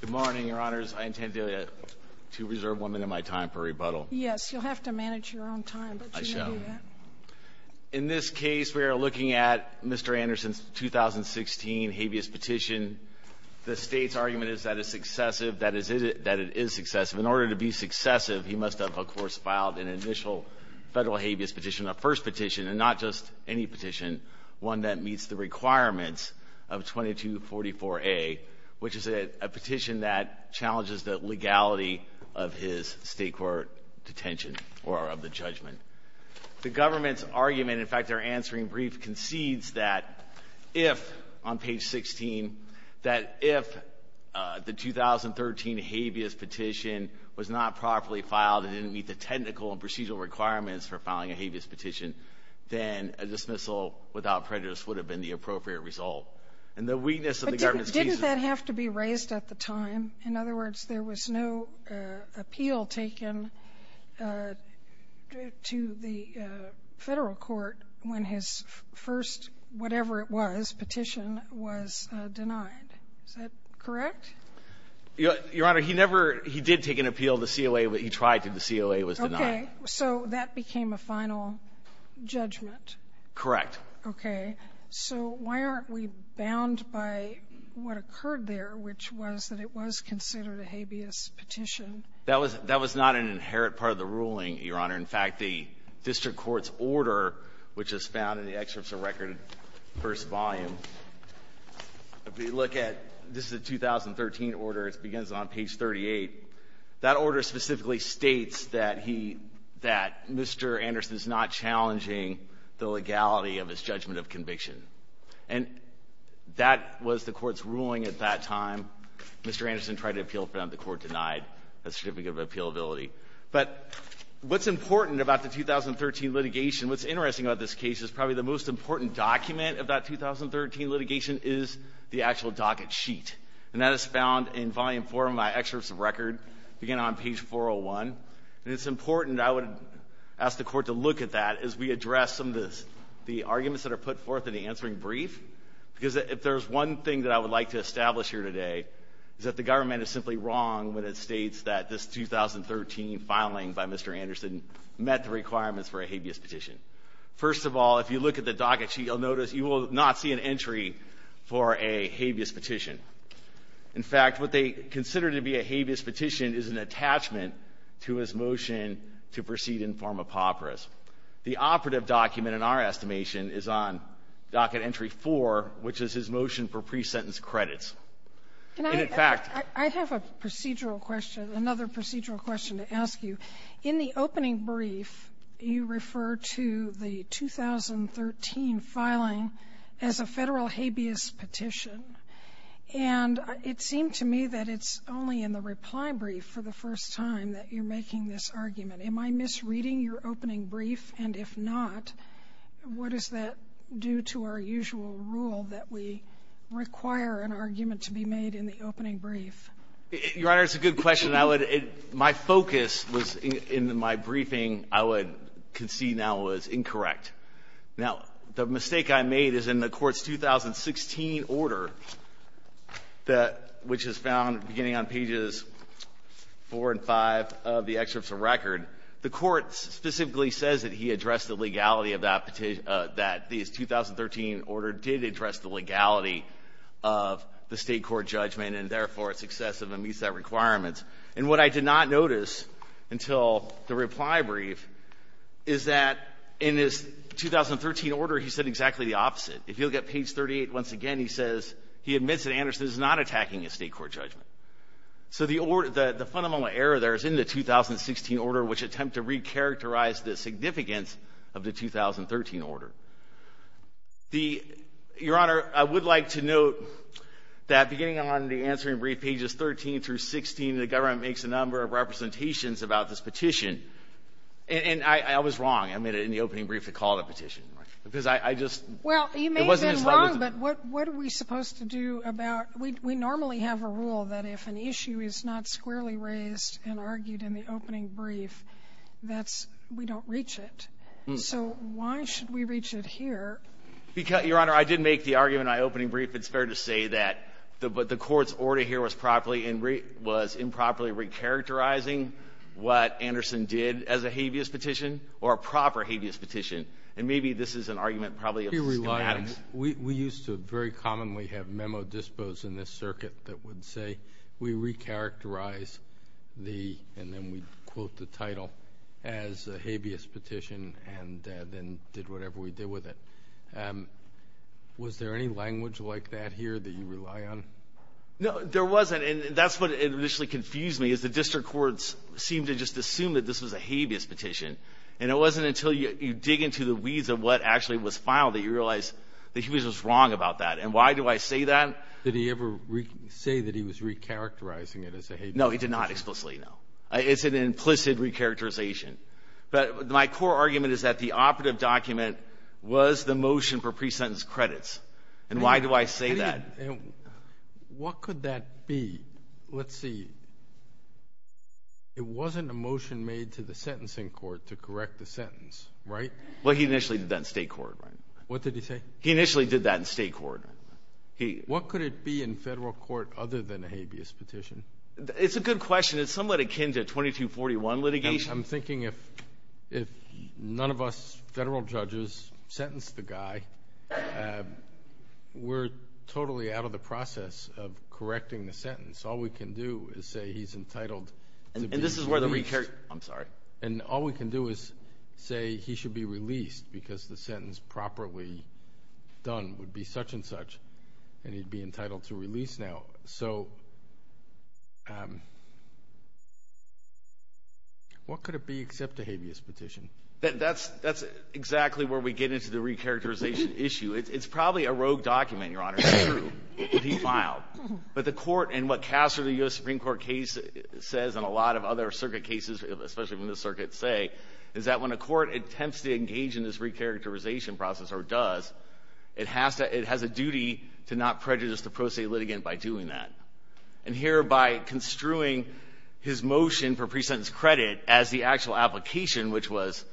Good morning, Your Honors. I intend to reserve one minute of my time for rebuttal. Yes, you'll have to manage your own time, but you may do that. In this case, we are looking at Mr. Anderson's 2016 habeas petition. The State's argument is that it is successive. In order to be successive, he must have, of course, filed an initial federal habeas petition, a first petition and not just any petition, one that meets the requirements of 2244A, which is a petition that challenges the legality of his State court detention or of the judgment. The government's argument, in fact, their answering brief concedes that if, on page 16, that if the 2013 habeas petition was not properly filed and didn't meet the technical and procedural requirements for filing a habeas petition, then a dismissal without prejudice would have been the appropriate result. And the weakness of the government's cases — But didn't that have to be raised at the time? In other words, there was no appeal taken to the Federal court when his first whatever-it-was petition was denied. Is that correct? Your Honor, he never — he did take an appeal. The COA — he tried to. The COA was denied. Okay. So that became a final judgment. Correct. Okay. So why aren't we bound by what occurred there, which was that it was considered a habeas petition? That was — that was not an inherent part of the ruling, Your Honor. In fact, the district court's order, which is found in the excerpts of record, first volume, if we look at — this is a 2013 order. It begins on page 38. That order specifically states that he — that Mr. Anderson is not challenging the legality of his judgment of conviction. And that was the Court's ruling at that time. Mr. Anderson tried to appeal for that. The Court denied a certificate of appealability. But what's important about the 2013 litigation, what's interesting about this case is probably the most important document of that 2013 litigation is the actual docket sheet. And that is found in volume four of my excerpts of record, beginning on page 401. And it's important I would ask the Court to look at that as we address some of the arguments that are put forth in the answering brief, because if there's one thing that I would like to establish here today is that the government is simply wrong when it states that this 2013 filing by Mr. Anderson met the requirements for a habeas petition. First of all, if you look at the docket sheet, you'll notice you will not see an entry for a habeas petition. In fact, what they consider to be a habeas petition is an attachment to his motion to proceed in form of papyrus. The operative document in our estimation is on docket entry four, which is his motion for pre-sentence credits. And, in fact ---- Sotomayor, I have a procedural question, another procedural question to ask you. In the opening brief, you refer to the 2013 filing as a Federal habeas petition. And it seemed to me that it's only in the reply brief for the first time that you're making this argument. Am I misreading your opening brief? And if not, what does that do to our usual rule that we require an argument to be made in the opening brief? Your Honor, it's a good question. I would ---- my focus was in my briefing. I would concede that was incorrect. Now, the mistake I made is in the Court's 2016 order that ---- which is found beginning on pages 4 and 5 of the excerpts of record, the Court specifically says that he addressed the legality of that petition ---- that his 2013 order did address the legality of the State court judgment, and, therefore, it's excessive and meets that requirement. And what I did not notice until the reply brief is that in his 2013 order, he said exactly the opposite. If you look at page 38, once again, he says he admits that Anderson is not attacking a State court judgment. So the fundamental error there is in the 2016 order, which attempt to recharacterize the significance of the 2013 order. The ---- Your Honor, I would like to note that beginning on the answering brief, pages 13 through 16, the government makes a number of representations about this petition. And I was wrong. I made it in the opening brief to call it a petition. Because I just ---- Well, you may have been wrong, but what are we supposed to do about ---- we normally have a rule that if an issue is not squarely raised and argued in the opening brief, that's ---- we don't reach it. So why should we reach it here? Your Honor, I did make the argument in my opening brief, it's fair to say, that the Court's order here was improperly recharacterizing what Anderson did as a habeas petition. And maybe this is an argument probably of schematics. We rely on ---- we used to very commonly have memo dispos in this circuit that would say, we recharacterize the, and then we'd quote the title, as a habeas petition, and then did whatever we did with it. Was there any language like that here that you rely on? No, there wasn't. And that's what initially confused me, is the district courts seemed to just assume that this was a habeas petition. And it wasn't until you dig into the weeds of what actually was filed that you realize that he was just wrong about that. And why do I say that? Did he ever say that he was recharacterizing it as a habeas petition? No, he did not explicitly, no. It's an implicit recharacterization. But my core argument is that the operative document was the motion for presentence credits. And why do I say that? And what could that be? Let's see. It wasn't a motion made to the sentencing court to correct the sentence, right? Well, he initially did that in State court, right? What did he say? He initially did that in State court. What could it be in Federal court other than a habeas petition? It's a good question. It's somewhat akin to a 2241 litigation. I'm thinking if none of us Federal judges sentenced the guy, we're totally out of the process of correcting the sentence. All we can do is say he's entitled to be released. And this is where the recharacterization comes in. I'm sorry. And all we can do is say he should be released because the sentence properly done would be such-and-such and he'd be entitled to release now. So what could it be except a habeas petition? That's exactly where we get into the recharacterization issue. It's probably a rogue document, Your Honor. It's true. It could be filed. But the court and what Casser the U.S. Supreme Court case says and a lot of other circuit cases, especially when the circuits say, is that when a court attempts to engage in this recharacterization process or does, it has to – it has a duty to not prejudice the pro se litigant by doing that. And here, by construing his motion for pre-sentence credit as the actual application, which was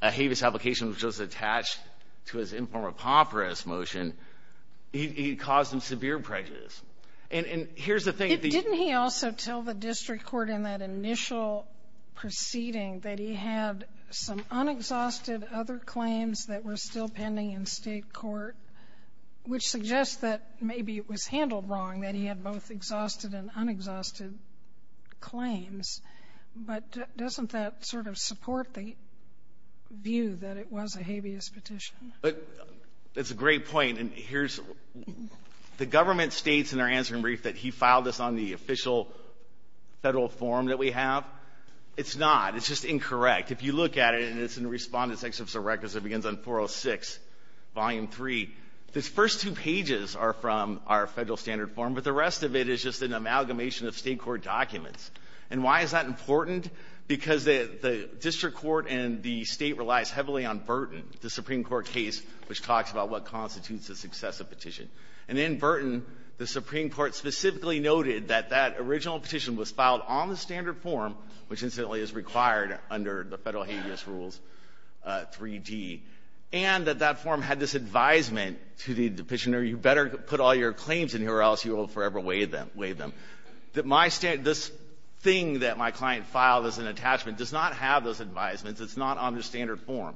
a habeas application which was attached to his informal preponderance motion, he caused him severe prejudice. And here's the thing. Didn't he also tell the district court in that initial proceeding that he had some unexhausted other claims that were still pending in State court, which suggests that maybe it was handled wrong, that he had both exhausted and unexhausted claims, but doesn't that sort of support the view that it was a habeas petition? It's a great point. And here's – the government states in their answering brief that he filed this on the official Federal form that we have. It's not. It's just incorrect. If you look at it, and it's in Respondent's Excerpt of Records, it begins on 406, Volume 3. The first two pages are from our Federal standard form, but the rest of it is just an amalgamation of State court documents. And why is that important? Because the district court and the State relies heavily on Burton, the Supreme Court case, which talks about what constitutes a successive petition. And in Burton, the Supreme Court specifically noted that that original petition was filed on the standard form, which incidentally is required under the Federal Habeas Rules 3d, and that that form had this advisement to the petitioner, you better put all your claims in here or else you will forever waive them, waive them, that my – this thing that my client filed as an attachment does not have those advisements. It's not on the standard form.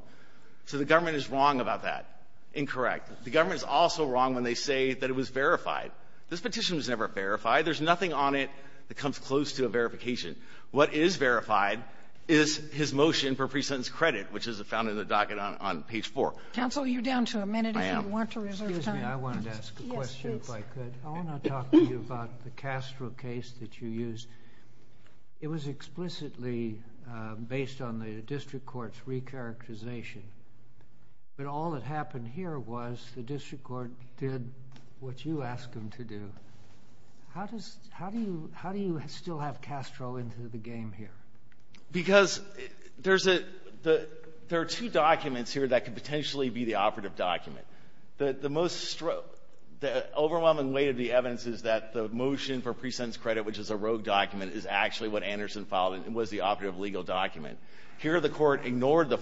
So the government is wrong about that. Incorrect. The government is also wrong when they say that it was verified. This petition was never verified. There's nothing on it that comes close to a verification. What is verified is his motion for presentence credit, which is found in the docket on page 4. Counsel, you're down to a minute. I am. If you want to reserve time. Excuse me. I wanted to ask a question, if I could. Yes, please. I want to talk to you about the Castro case that you used. It was explicitly based on the district court's recharacterization. But all that happened here was the district court did what you asked them to do. How does – how do you – how do you still have Castro into the game here? Because there's a – there are two documents here that could potentially be the operative document. The most – the overwhelming weight of the evidence is that the motion for presentence credit, which is a rogue document, is actually what Anderson filed and was the operative legal document. Here the Court ignored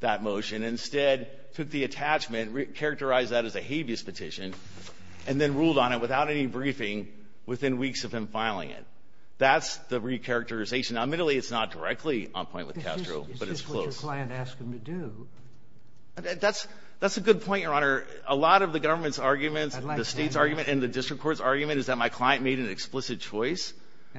that motion, instead took the attachment, characterized that as a habeas petition, and then ruled on it without any briefing within weeks of him filing it. That's the recharacterization. Now, admittedly, it's not directly on point with Castro, but it's close. Is this what your client asked him to do? That's – that's a good point, Your Honor. A lot of the government's arguments, the State's argument, and the district court's argument is that my client made an explicit choice.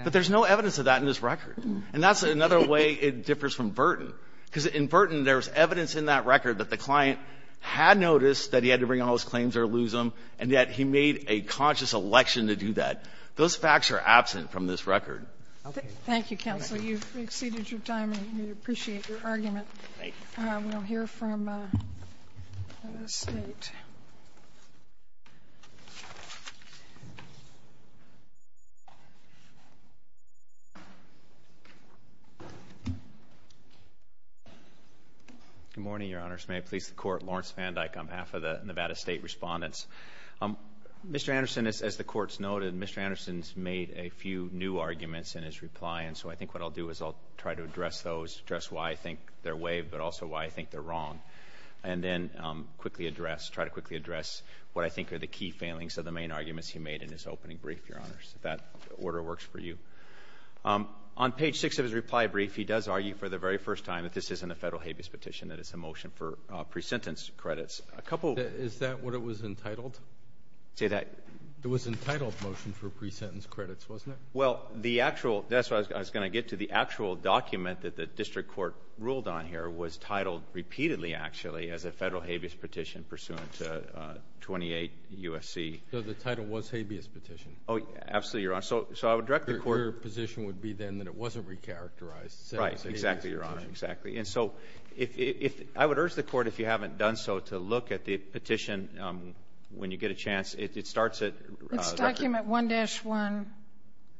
But there's no evidence of that in this record. And that's another way it differs from Burton. Because in Burton, there's evidence in that record that the client had noticed that he had to bring all his claims or lose them, and yet he made a conscious election to do that. Those facts are absent from this record. Thank you, counsel. You've exceeded your time, and we appreciate your argument. Thank you. We'll hear from the State. Good morning, Your Honors. May I please the Court? Lawrence Van Dyck. I'm half of the Nevada State respondents. Mr. Anderson, as the Court's noted, Mr. Anderson's made a few new arguments in his reply, and so I think what I'll do is I'll try to address those, address why I think they're waived, but also why I think they're wrong, and then quickly address – try to quickly address what I think are the key failings of the main arguments he made in his opening brief, Your Honors, if that order works for you. On page 6 of his reply brief, he does argue for the very first time that this isn't a Federal habeas petition, that it's a motion for pre-sentence credits. A couple – Is that what it was entitled? Say that – It was an entitled motion for pre-sentence credits, wasn't it? Well, the actual – that's what I was going to get to. The actual document that the District Court ruled on here was titled repeatedly, actually, as a Federal habeas petition pursuant to 28 U.S.C. So the title was Habeas Petition. Oh, absolutely, Your Honor. So I would direct the Court – Your position would be then that it wasn't recharacterized. Right. Exactly, Your Honor. Exactly. And so if – I would urge the Court, if you haven't done so, to look at the petition when you get a chance. It starts at – It's document 1-1,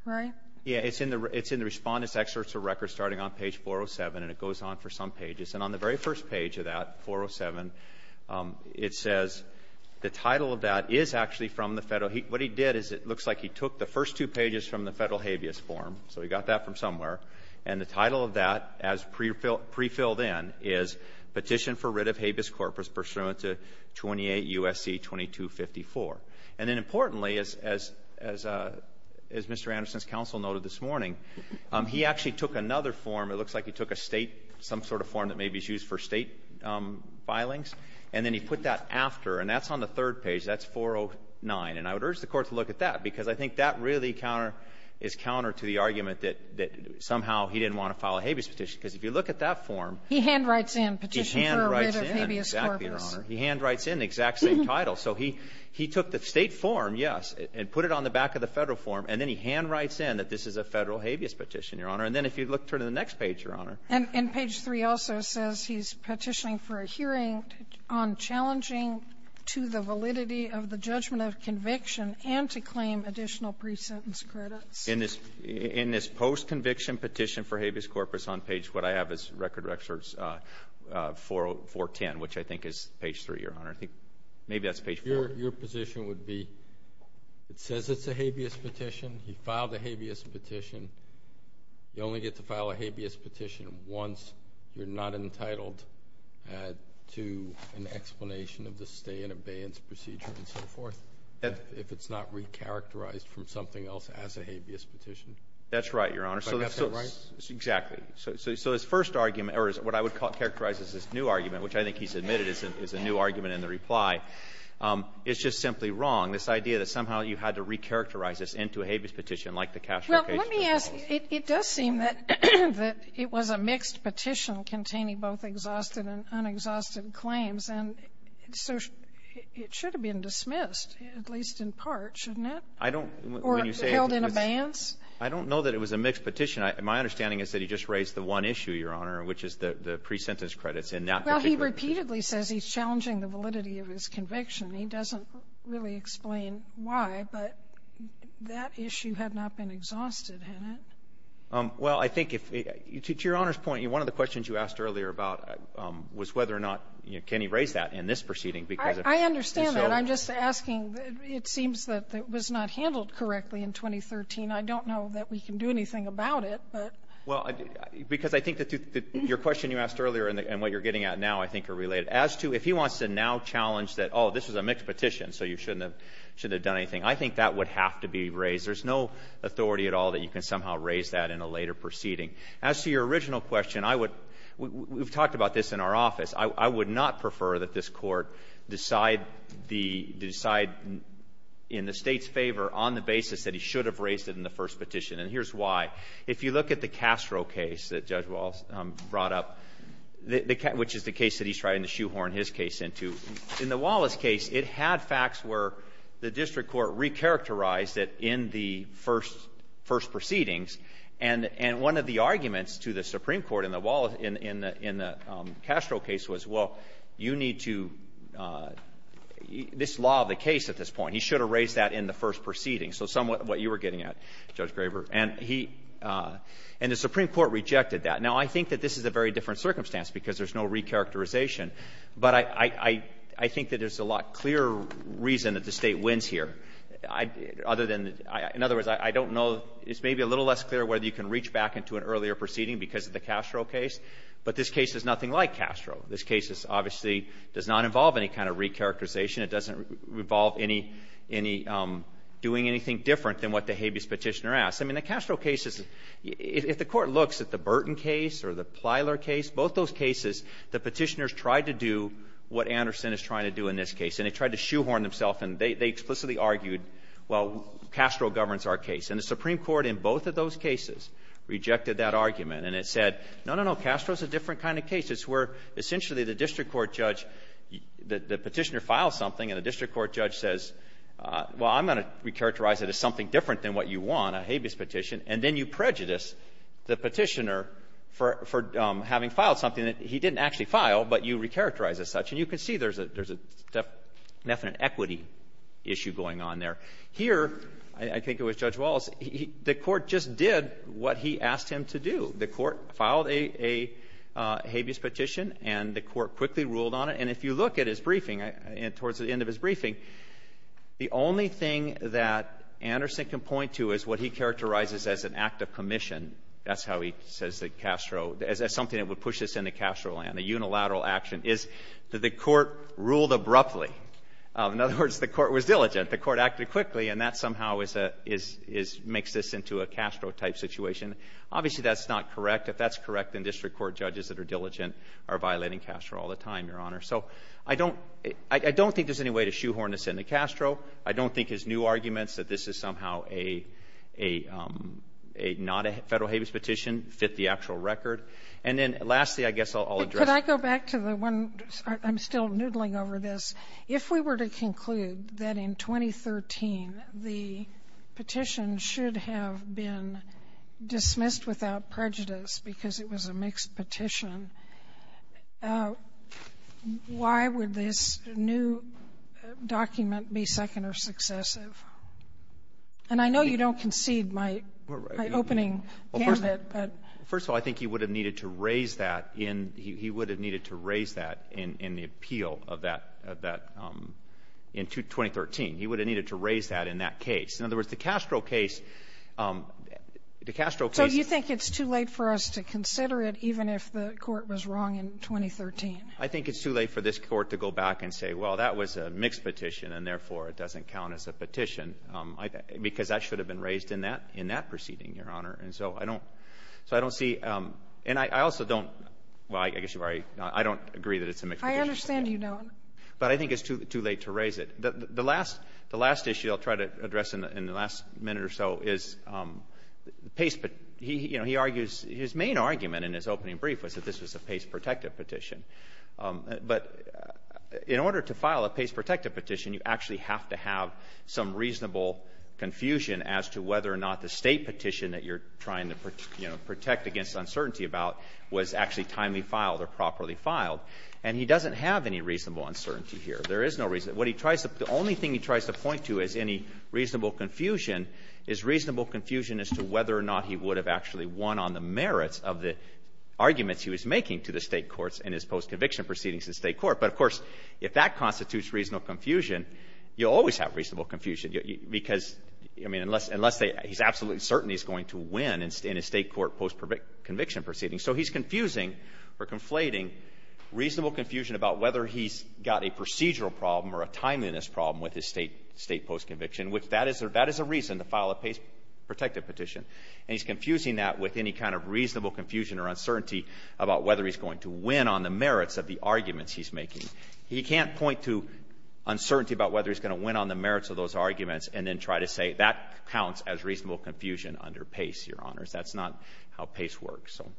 right? Yeah. It's in the Respondents' Excerpts of Records starting on page 407, and it goes on for some pages. And on the very first page of that, 407, it says the title of that is actually from the Federal – what he did is it looks like he took the first two pages from the Federal habeas form. So he got that from somewhere. And the title of that, as prefilled in, is Petition for Writ of Habeas Corpus Pursuant to 28 U.S.C. 2254. And then importantly, as Mr. Anderson's counsel noted this morning, he actually took another form. It looks like he took a State – some sort of form that maybe is used for State filings, and then he put that after. And that's on the third page. That's 409. And I would urge the Court to look at that, because I think that really counter is counter to the argument that somehow he didn't want to file a habeas petition. Because if you look at that form — He handwrites in Petition for a Writ of Habeas Corpus. He handwrites in. Exactly, Your Honor. He handwrites in the exact same title. So he took the State form, yes, and put it on the back of the Federal form, and then he handwrites in that this is a Federal habeas petition, Your Honor. And then if you look through to the next page, Your Honor — And page 3 also says he's petitioning for a hearing on challenging to the validity of the judgment of conviction and to claim additional pre-sentence credits. In this post-conviction Petition for Habeas Corpus, on page what I have is Record Records 410, which I think is page 3, Your Honor. I think maybe that's page 4. Your position would be it says it's a habeas petition. He filed a habeas petition. You only get to file a habeas petition once you're not entitled to an explanation of the stay-in-abeyance procedure and so forth, if it's not recharacterized from something else as a habeas petition. That's right, Your Honor. But that's not right? Exactly. So his first argument, or what I would characterize as his new argument, which I think he's admitted is a new argument in the reply, is just simply wrong, this idea that somehow you had to recharacterize this into a habeas petition like the cash location. Well, let me ask. It does seem that it was a mixed petition containing both exhausted and unexhausted claims, and so it should have been dismissed, at least in part, shouldn't it? Or held in abeyance? I don't know that it was a mixed petition. My understanding is that he just raised the one issue, Your Honor, which is the pre-sentence credits in that particular case. Well, he repeatedly says he's challenging the validity of his conviction. He doesn't really explain why, but that issue had not been exhausted, had it? Well, I think if you to your Honor's point, one of the questions you asked earlier about was whether or not, you know, can he raise that in this proceeding. I understand that. I'm just asking. It seems that it was not handled correctly in 2013. I don't know that we can do anything about it. Well, because I think that your question you asked earlier and what you're getting at now I think are related. As to if he wants to now challenge that, oh, this is a mixed petition, so you shouldn't have done anything, I think that would have to be raised. There's no authority at all that you can somehow raise that in a later proceeding. As to your original question, I would we've talked about this in our office. I would not prefer that this Court decide the decide in the State's favor on the basis that he should have raised it in the first petition, and here's why. If you look at the Castro case that Judge Wallace brought up, which is the case that he's trying to shoehorn his case into, in the Wallace case, it had facts where the district court recharacterized it in the first proceedings, and one of the arguments to the Supreme Court in the Wallace — in the Castro case was, well, you need to — this law of the case at this point, he should have raised that in the first proceedings, so somewhat what you were getting at, Judge Graber. And he — and the Supreme Court rejected that. Now, I think that this is a very different circumstance because there's no recharacterization, but I think that there's a lot clearer reason that the State wins here. Other than — in other words, I don't know. It's maybe a little less clear whether you can reach back into an earlier proceeding because of the Castro case, but this case is nothing like Castro. This case obviously does not involve any kind of recharacterization. It doesn't involve any — any doing anything different than what the habeas Petitioner asked. I mean, the Castro case is — if the Court looks at the Burton case or the Plyler case, both those cases, the Petitioners tried to do what Anderson is trying to do in this case, and they tried to shoehorn themselves, and they explicitly argued, well, Castro governs our case. And the Supreme Court in both of those cases rejected that argument, and it said, no, no, no, Castro's a different kind of case. It's where, essentially, the district court judge — the Petitioner files something, and the district court judge says, well, I'm going to recharacterize it as something different than what you want, a habeas petition. And then you prejudice the Petitioner for — for having filed something that he didn't actually file, but you recharacterize as such. And you can see there's a — there's a definite equity issue going on there. Here, I think it was Judge Wallace, the Court just did what he asked him to do. The Court filed a habeas petition, and the Court quickly ruled on it. And if you look at his briefing, towards the end of his briefing, the only thing that Anderson can point to is what he characterizes as an act of commission. That's how he says that Castro — as something that would push us into Castro land, a unilateral action, is that the Court ruled abruptly. In other words, the Court was diligent. The Court acted quickly, and that somehow is a — is — is — makes this into a Castro-type situation. Obviously, that's not correct. If that's correct, then district court judges that are diligent are violating Castro all the time, Your Honor. So I don't — I don't think there's any way to shoehorn this into Castro. I don't think his new arguments that this is somehow a — a — a not a Federal habeas petition fit the actual record. And then, lastly, I guess I'll address — Sotomayor, could I go back to the one — I'm still noodling over this. If we were to conclude that in 2013 the petition should have been dismissed without prejudice because it was a mixed petition, why would this new document be second or successive? And I know you don't concede my — my opening gambit, but — First of all, I think he would have needed to raise that in — he would have needed to raise that in — in the appeal of that — of that — in 2013. He would have needed to raise that in that case. In other words, the Castro case — the Castro case — So you think it's too late for us to consider it even if the court was wrong in 2013? I think it's too late for this Court to go back and say, well, that was a mixed petition, and therefore it doesn't count as a petition, because that should have been raised in that — in that proceeding, Your Honor. And so I don't — so I don't see — and I also don't — well, I guess you've already — I don't agree that it's a mixed petition. I understand you, Your Honor. But I think it's too — too late to raise it. The last — the last issue I'll try to address in the last minute or so is Pace — he — you know, he argues — his main argument in his opening brief was that this was a Pace-protected petition. But in order to file a Pace-protected petition, you actually have to have some reasonable confusion as to whether or not the State And he doesn't have any reasonable uncertainty here. There is no reason — what he tries to — the only thing he tries to point to as any reasonable confusion is reasonable confusion as to whether or not he would have actually won on the merits of the arguments he was making to the State courts in his post-conviction proceedings in State court. But, of course, if that constitutes reasonable confusion, you'll always have reasonable confusion, because — I mean, unless — unless they — he's absolutely certain he's going to win in his State court post-conviction proceedings. So he's confusing or conflating reasonable confusion about whether he's got a procedural problem or a timeliness problem with his State — State post-conviction, which that is — that is a reason to file a Pace-protected petition. And he's confusing that with any kind of reasonable confusion or uncertainty about whether he's going to win on the merits of the arguments he's making. He can't point to uncertainty about whether he's going to win on the merits of those arguments and then try to say that counts as reasonable confusion under Pace, Your Honors. That's not how Pace works. So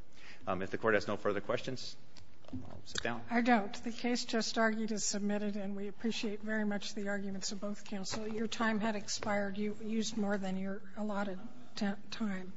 if the Court has no further questions, I'll sit down. Sotomayor, I doubt. The case just argued is submitted, and we appreciate very much the arguments of both counsel. Your time had expired. You used more than your allotted time.